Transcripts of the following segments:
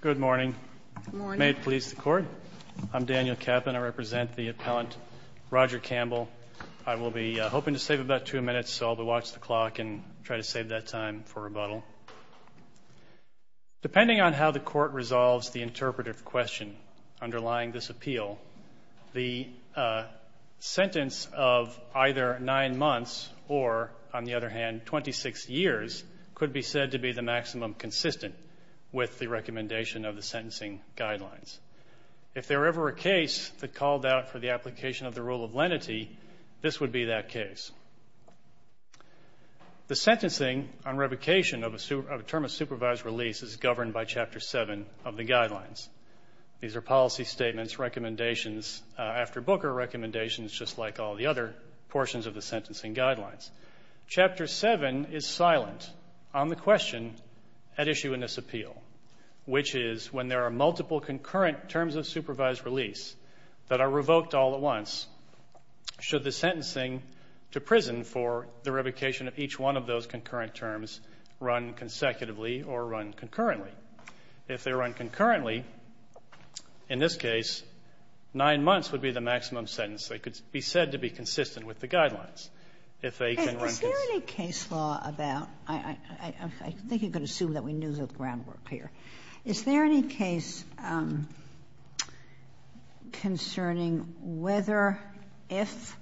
Good morning. May it please the Court. I'm Daniel Kaplan. I represent the appellant Roger Campbell. I will be hoping to save about two minutes, so I'll watch the clock and try to save that time for rebuttal. Depending on how the Court resolves the interpretive question underlying this appeal, the sentence of either nine months or, on the other hand, 26 years could be said to be the maximum consistent with the recommendation of the sentencing guidelines. If there were ever a case that called out for the application of the rule of lenity, this would be that case. The sentencing on revocation of a term of supervised release is governed by Chapter 7 of the guidelines. These are policy statements, recommendations after Booker, recommendations just like all the other portions of the sentencing guidelines. Chapter 7 is silent on the question at issue in this appeal, which is when there are multiple concurrent terms of supervised release that are revoked all at once, should the sentencing to prison for the revocation of each one of those concurrent terms run consecutively or run concurrently? If they run concurrently, in this case, nine months would be the maximum sentence that could be said to be consistent with the guidelines. If they can run concurrently or concurrently. Sotomayor Is there any case law about – I think you can assume that we knew the groundwork here. Is there any case concerning whether if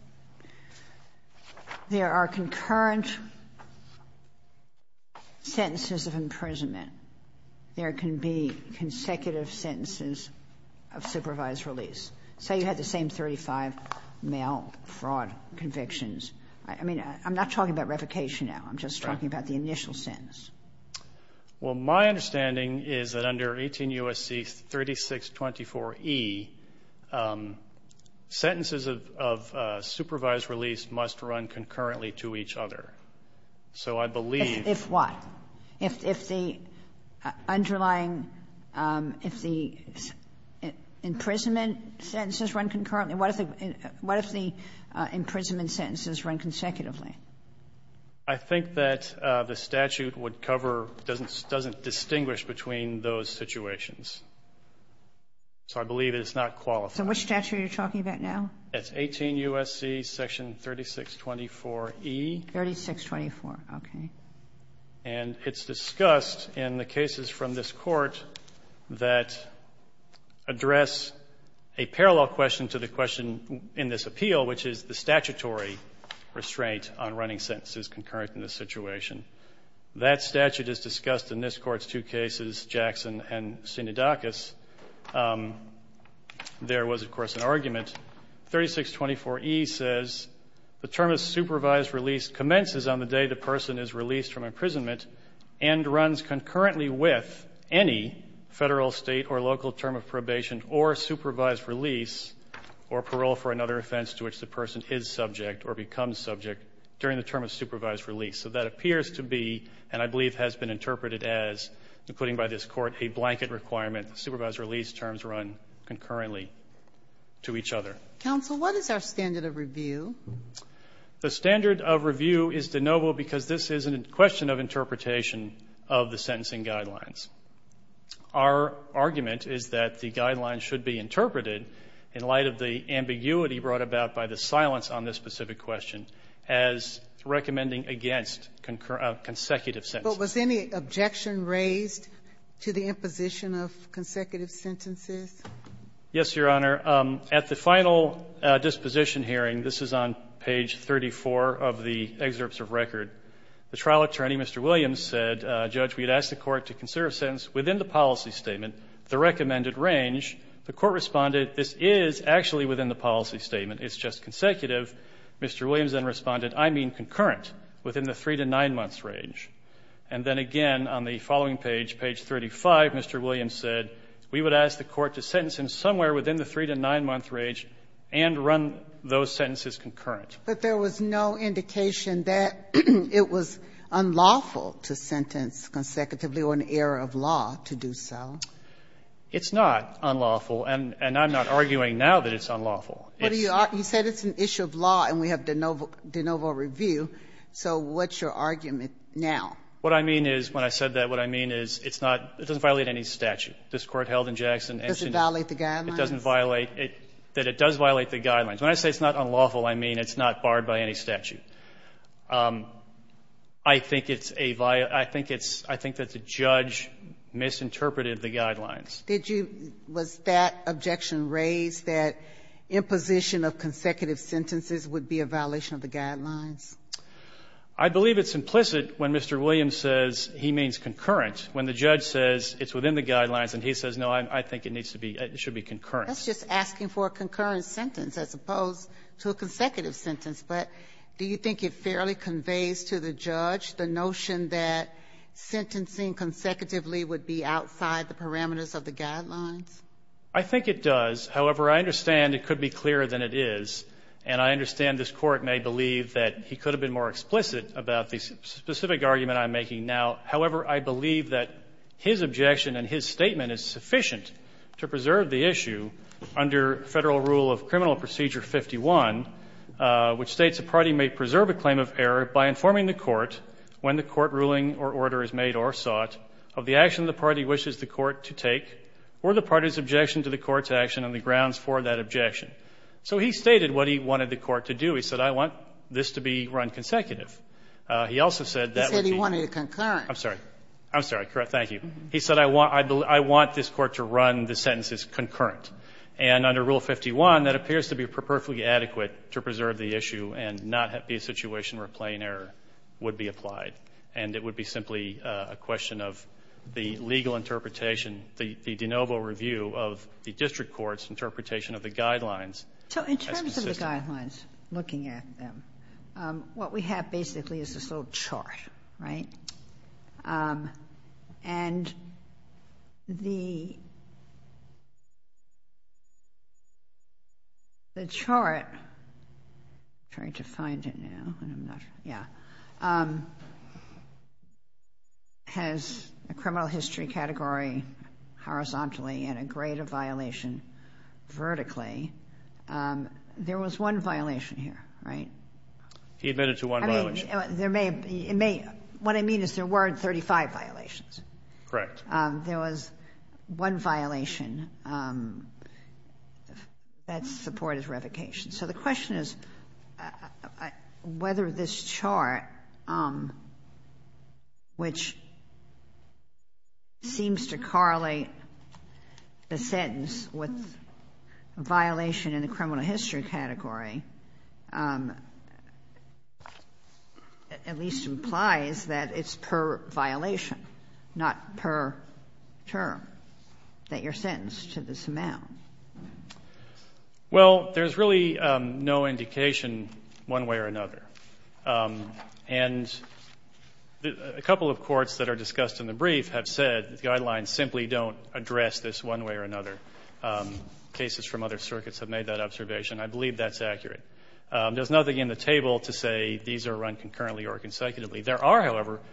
there are concurrent sentences of imprisonment, there can be consecutive sentences of supervised release? Say you had the same 35 male fraud convictions. I mean, I'm not talking about revocation now. I'm just talking about the initial sentence. Well, my understanding is that under 18 U.S.C. 3624e, sentences of – of supervised release must run concurrently to each other. So I believe – If what? If the underlying – if the imprisonment sentences run concurrently? What if the imprisonment sentences run consecutively? I think that the statute would cover – doesn't distinguish between those situations. So I believe it's not qualified. So which statute are you talking about now? It's 18 U.S.C. section 3624e. 3624. Okay. And it's discussed in the cases from this Court that address a parallel question to the question in this appeal, which is the statutory restraint on running sentences concurrent in this situation. That statute is discussed in this Court's two cases, Jackson and Sinodakis. There was, of course, an argument. 3624e says the term of supervised release commences on the day the person is released from imprisonment and runs concurrently with any Federal, State, or local term of probation or supervised release or parole for another offense to which the person is subject or becomes subject during the term of supervised release. So that appears to be, and I believe has been interpreted as, including by this Court, a blanket requirement, supervised release terms run concurrently to each other. Counsel, what is our standard of review? The standard of review is de novo because this is a question of interpretation of the sentencing guidelines. Our argument is that the guidelines should be interpreted in light of the ambiguity brought about by the silence on this specific question as recommending against consecutive sentences. But was any objection raised to the imposition of consecutive sentences? Yes, Your Honor. At the final disposition hearing, this is on page 34 of the excerpts of record, the trial attorney, Mr. Williams, said, Judge, we had asked the Court to consider a sentence within the policy statement, the recommended range. The Court responded, this is actually within the policy statement. It's just consecutive. Mr. Williams then responded, I mean concurrent, within the 3 to 9 months range. And then again, on the following page, page 35, Mr. Williams said, we would ask the Court to sentence him somewhere within the 3 to 9-month range and run those sentences concurrent. But there was no indication that it was unlawful to sentence consecutively or an error of law to do so. It's not unlawful, and I'm not arguing now that it's unlawful. You said it's an issue of law, and we have de novo review. So what's your argument now? What I mean is, when I said that, what I mean is it's not – it doesn't violate any statute. This Court held in Jackson and – Does it violate the guidelines? It doesn't violate – that it does violate the guidelines. When I say it's not unlawful, I mean it's not barred by any statute. I think it's a – I think it's – I think that the judge misinterpreted the guidelines. Did you – was that objection raised, that imposition of consecutive sentences would be a violation of the guidelines? I believe it's implicit when Mr. Williams says he means concurrent. When the judge says it's within the guidelines, and he says, no, I think it needs to be – it should be concurrent. That's just asking for a concurrent sentence as opposed to a consecutive sentence. But do you think it fairly conveys to the judge the notion that sentencing consecutively would be outside the parameters of the guidelines? I think it does. However, I understand it could be clearer than it is, and I understand this Court may believe that he could have been more explicit about the specific argument I'm making now. However, I believe that his objection and his statement is sufficient to preserve the issue under Federal Rule of Criminal Procedure 51, which states a party may preserve a claim of error by informing the Court when the Court ruling or order is made or sought of the action the party wishes the Court to take or the party's objection to the Court's action and the grounds for that objection. So he stated what he wanted the Court to do. He said, I want this to be run consecutive. He also said that would be – He said he wanted it concurrent. I'm sorry. I'm sorry. Thank you. He said I want this Court to run the sentences concurrent. And under Rule 51, that appears to be perfectly adequate to preserve the issue and not be a situation where plain error would be applied, and it would be simply a question of the legal interpretation, the de novo review of the district court's interpretation of the guidelines as consistent. In terms of the guidelines, looking at them, what we have basically is this little chart, right? And the chart – I'm trying to find it now, and I'm not – yeah – has a criminal history category horizontally and a grade of violation vertically. There was one violation here, right? He admitted to one violation. I mean, there may – what I mean is there weren't 35 violations. Correct. There was one violation that's supported revocation. So the question is whether this chart, which seems to correlate the sentence with violation in the criminal history category, at least implies that it's per violation, not per term that you're sentenced to this amount. Well, there's really no indication one way or another. And a couple of courts that are discussed in the brief have said that the guidelines cases from other circuits have made that observation. I believe that's accurate. There's nothing in the table to say these are run concurrently or consecutively. There are, however –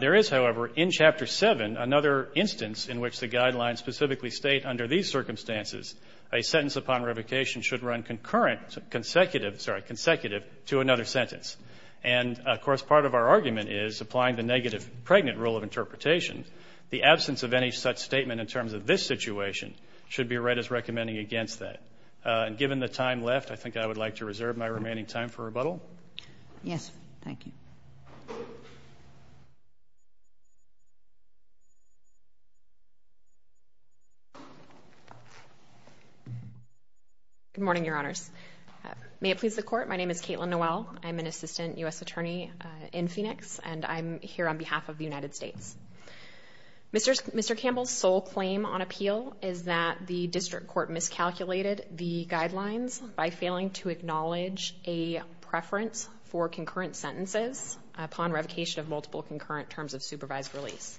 there is, however, in Chapter 7, another instance in which the guidelines specifically state under these circumstances a sentence upon revocation should run concurrent, consecutive – sorry, consecutive to another sentence. And, of course, part of our argument is, applying the negative pregnant rule of should be read as recommending against that. And given the time left, I think I would like to reserve my remaining time for rebuttal. Yes. Thank you. Good morning, Your Honors. May it please the Court, my name is Kaitlin Noel. I'm an assistant U.S. attorney in Phoenix, and I'm here on behalf of the United States. Mr. Campbell's sole claim on appeal is that the district court miscalculated the guidelines by failing to acknowledge a preference for concurrent sentences upon revocation of multiple concurrent terms of supervised release.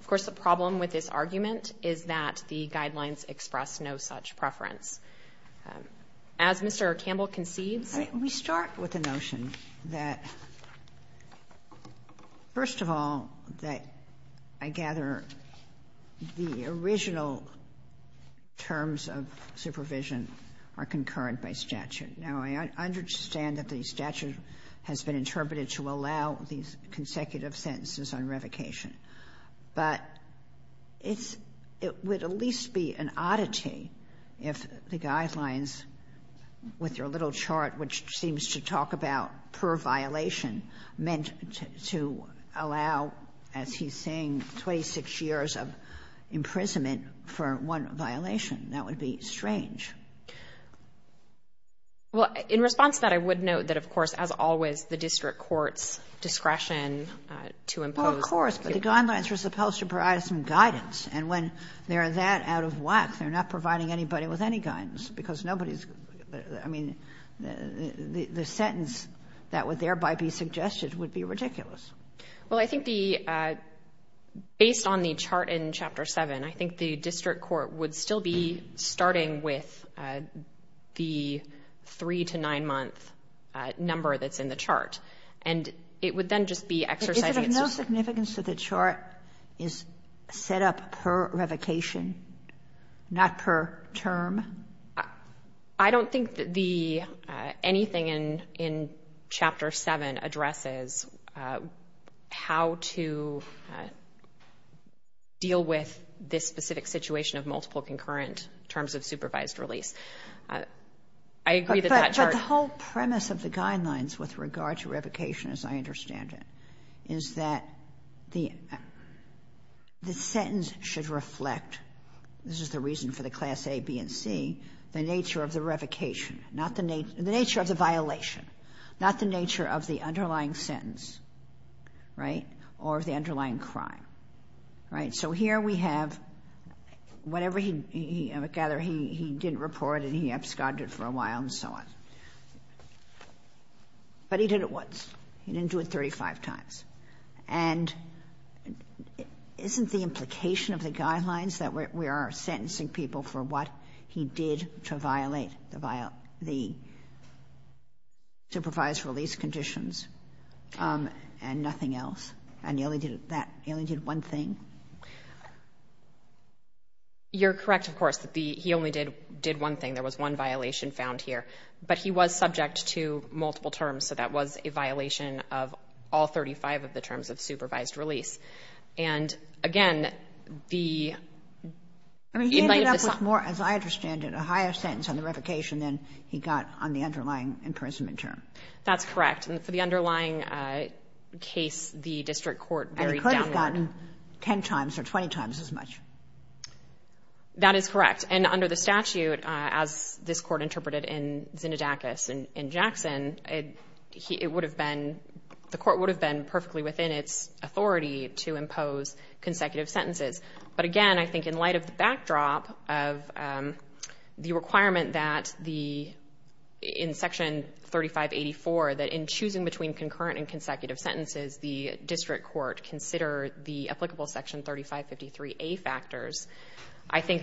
Of course, the problem with this argument is that the guidelines express no such preference. As Mr. Campbell concedes – I'll start with the notion that, first of all, that I gather the original terms of supervision are concurrent by statute. Now, I understand that the statute has been interpreted to allow these consecutive sentences on revocation, but it's – it would at least be an oddity if the guidelines, with your little chart, which seems to talk about per violation, meant to allow, as he's saying, 26 years of imprisonment for one violation. That would be strange. Well, in response to that, I would note that, of course, as always, the district court's discretion to impose – Well, of course, but the guidelines were supposed to provide some guidance, and when they're that out of whack, they're not providing anybody with any guidance because nobody's – I mean, the sentence that would thereby be suggested would be ridiculous. Well, I think the – based on the chart in Chapter 7, I think the district court would still be starting with the 3- to 9-month number that's in the chart. And it would then just be exercising its – Is it of no significance that the chart is set up per revocation, not per term? I don't think that the – anything in Chapter 7 addresses how to deal with this specific situation of multiple concurrent terms of supervised release. I agree that that chart – But the whole premise of the guidelines with regard to revocation, as I understand it, is that the sentence should reflect – this is the reason for the Class A, B, and C – the nature of the revocation, not the – the nature of the violation, not the nature of the underlying sentence, right, or of the underlying crime, right? So here we have – whenever he – I gather he didn't report and he absconded for a while and so on. But he did it once. He didn't do it 35 times. And isn't the implication of the guidelines that we are sentencing people for what he did to violate the supervised release conditions and nothing else, and he only did that – he only did one thing? You're correct, of course, that the – he only did one thing. There was one violation found here. But he was subject to multiple terms, so that was a violation of all 35 of the terms of supervised release. And again, the – I mean, he ended up with more, as I understand it, a higher sentence on the revocation than he got on the underlying imprisonment term. That's correct. And for the underlying case, the district court varied downward. And he could have gotten 10 times or 20 times as much. That is correct. And under the statute, as this court interpreted in Zinadakis and Jackson, it would have been – the court would have been perfectly within its authority to impose consecutive sentences. But again, I think in light of the backdrop of the requirement that the – in Section 3584, that in choosing between concurrent and consecutive sentences, the district court consider the applicable Section 3553A factors. I think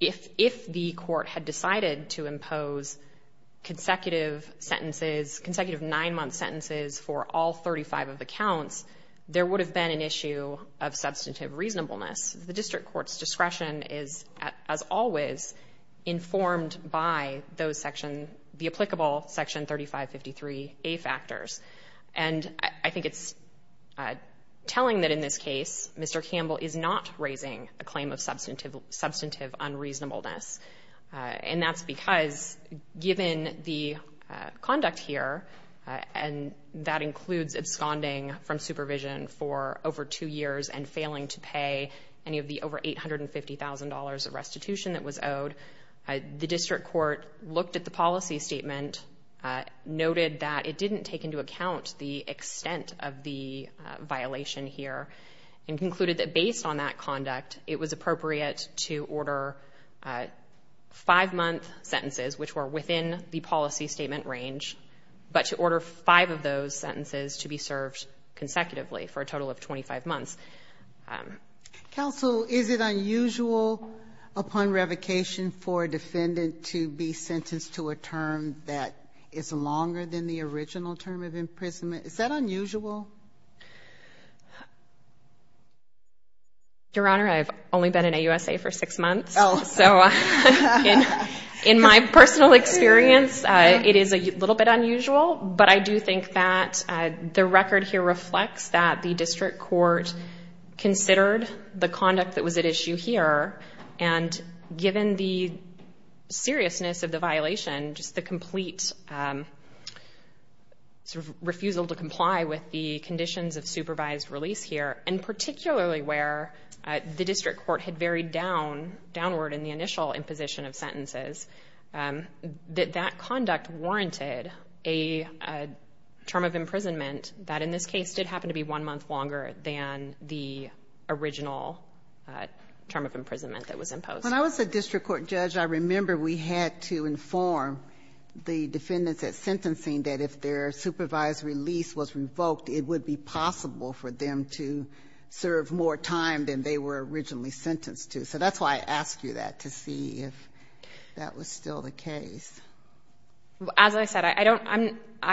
if the court had decided to impose consecutive sentences, consecutive nine-month sentences for all 35 of the counts, there would have been an issue of substantive reasonableness. The district court's discretion is, as always, informed by those section – the applicable Section 3553A factors. And I think it's telling that in this case Mr. Campbell is not raising a claim of substantive unreasonableness. And that's because given the conduct here, and that includes absconding from supervision for over two years and failing to pay any of the over $850,000 of restitution that was owed, the district court looked at the policy statement, noted that it didn't take into account the extent of the violation here, and concluded that based on that conduct it was appropriate to order five-month sentences which were within the policy statement range, but to order five of those sentences to be served consecutively for a total of 25 months. Counsel, is it unusual upon revocation for a defendant to be sentenced to a term that is longer than the original term of imprisonment? Is that unusual? Your Honor, I've only been in AUSA for six months, so in my personal experience it is a little bit unusual, but I do think that the record here reflects that the district court considered the conduct that was at issue here, and given the seriousness of the violation, just the complete refusal to comply with the conditions of supervised release here, and particularly where the district court had varied downward in the initial imposition of sentences, that that conduct warranted a term of imprisonment that in this case did happen to be one month longer than the original term of imprisonment that was imposed. When I was a district court judge I remember we had to inform the defendants at sentencing that if their supervised release was revoked it would be possible for them to serve more time than they were originally sentenced to. So that's why I asked you that, to see if that was still the case. As I said, I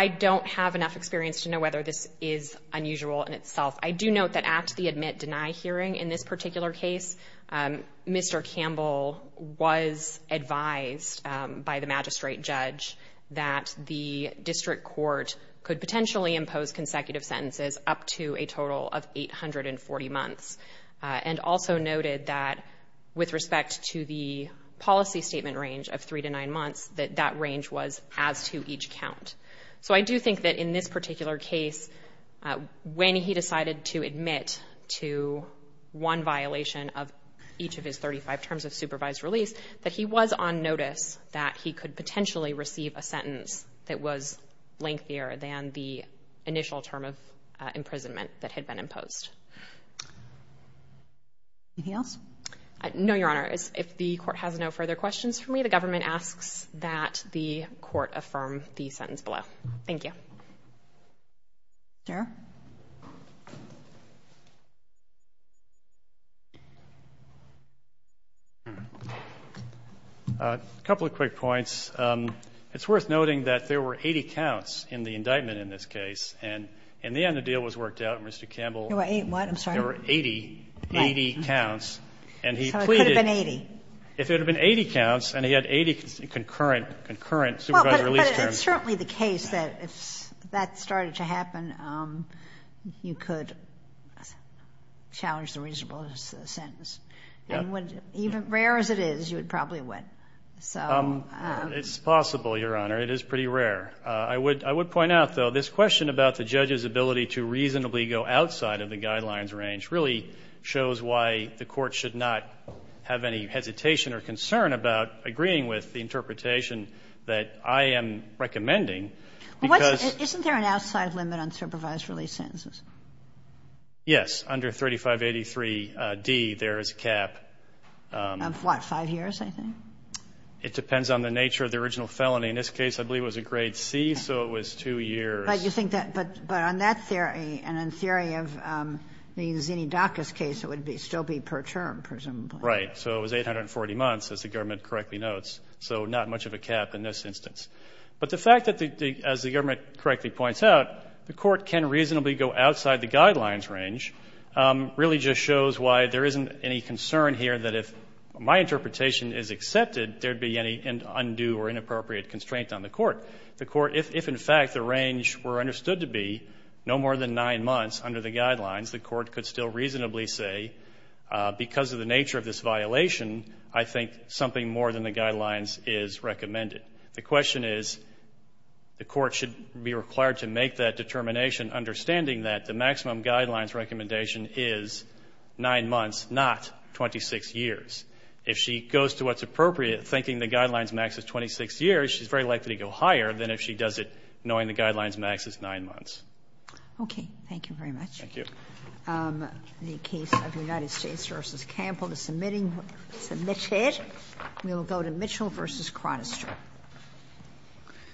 don't have enough experience to know whether this is unusual in itself. I do note that at the admit-deny hearing in this particular case, Mr. Campbell was advised by the magistrate judge that the district court could potentially impose consecutive sentences up to a total of 840 months, and also noted that with respect to the policy statement range of three to nine months that that range was as to each count. So I do think that in this particular case when he decided to admit to one violation of each of his 35 terms of supervised release that he was on notice that he could potentially receive a sentence that was lengthier than the initial term of imprisonment that had been imposed. Anything else? No, Your Honor. If the court has no further questions for me the government asks that the court affirm the sentence below. Thank you. Thank you, Your Honor. A couple of quick points. It's worth noting that there were 80 counts in the indictment in this case and in the end the deal was worked out and Mr. Campbell... There were 80 what, I'm sorry? There were 80 counts and he pleaded... So it could have been 80? If it had been 80 counts and he had 80 concurrent supervised release terms... If that started to happen you could challenge the reasonableness of the sentence. Even rare as it is you would probably win. It's possible, Your Honor. It is pretty rare. I would point out though this question about the judge's ability to reasonably go outside of the guidelines range really shows why the court should not have any hesitation or concern about agreeing with the interpretation that I am recommending because... Isn't there an outside limit on supervised release sentences? Yes. Under 3583D there is a cap. Of what? Five years, I think? It depends on the nature of the original felony. In this case I believe it was a grade C so it was two years. But you think that... But on that theory and in theory of the Zinni Dacus case it would still be per term, presumably. Right. So it was 840 months as the government correctly notes. So not much of a cap in this instance. But the fact that as the government correctly points out the court can reasonably go outside the guidelines range really just shows why there isn't any concern here that if my interpretation is accepted there would be any undue or inappropriate constraint on the court. If in fact the range were understood to be no more than 9 months under the guidelines the court could still reasonably say because of the nature of this violation I think something more than the guidelines is recommended. The question is the court should be required to make that determination understanding that the maximum guidelines recommendation is 9 months not 26 years. If she goes to what's appropriate thinking the guidelines max is 26 years she's very likely to go higher than if she does it knowing the guidelines max is 9 months. Okay. Thank you very much. Thank you. The case of United States v. Campbell is submitted. We will go to Mitchell v. Chronister. Thank you.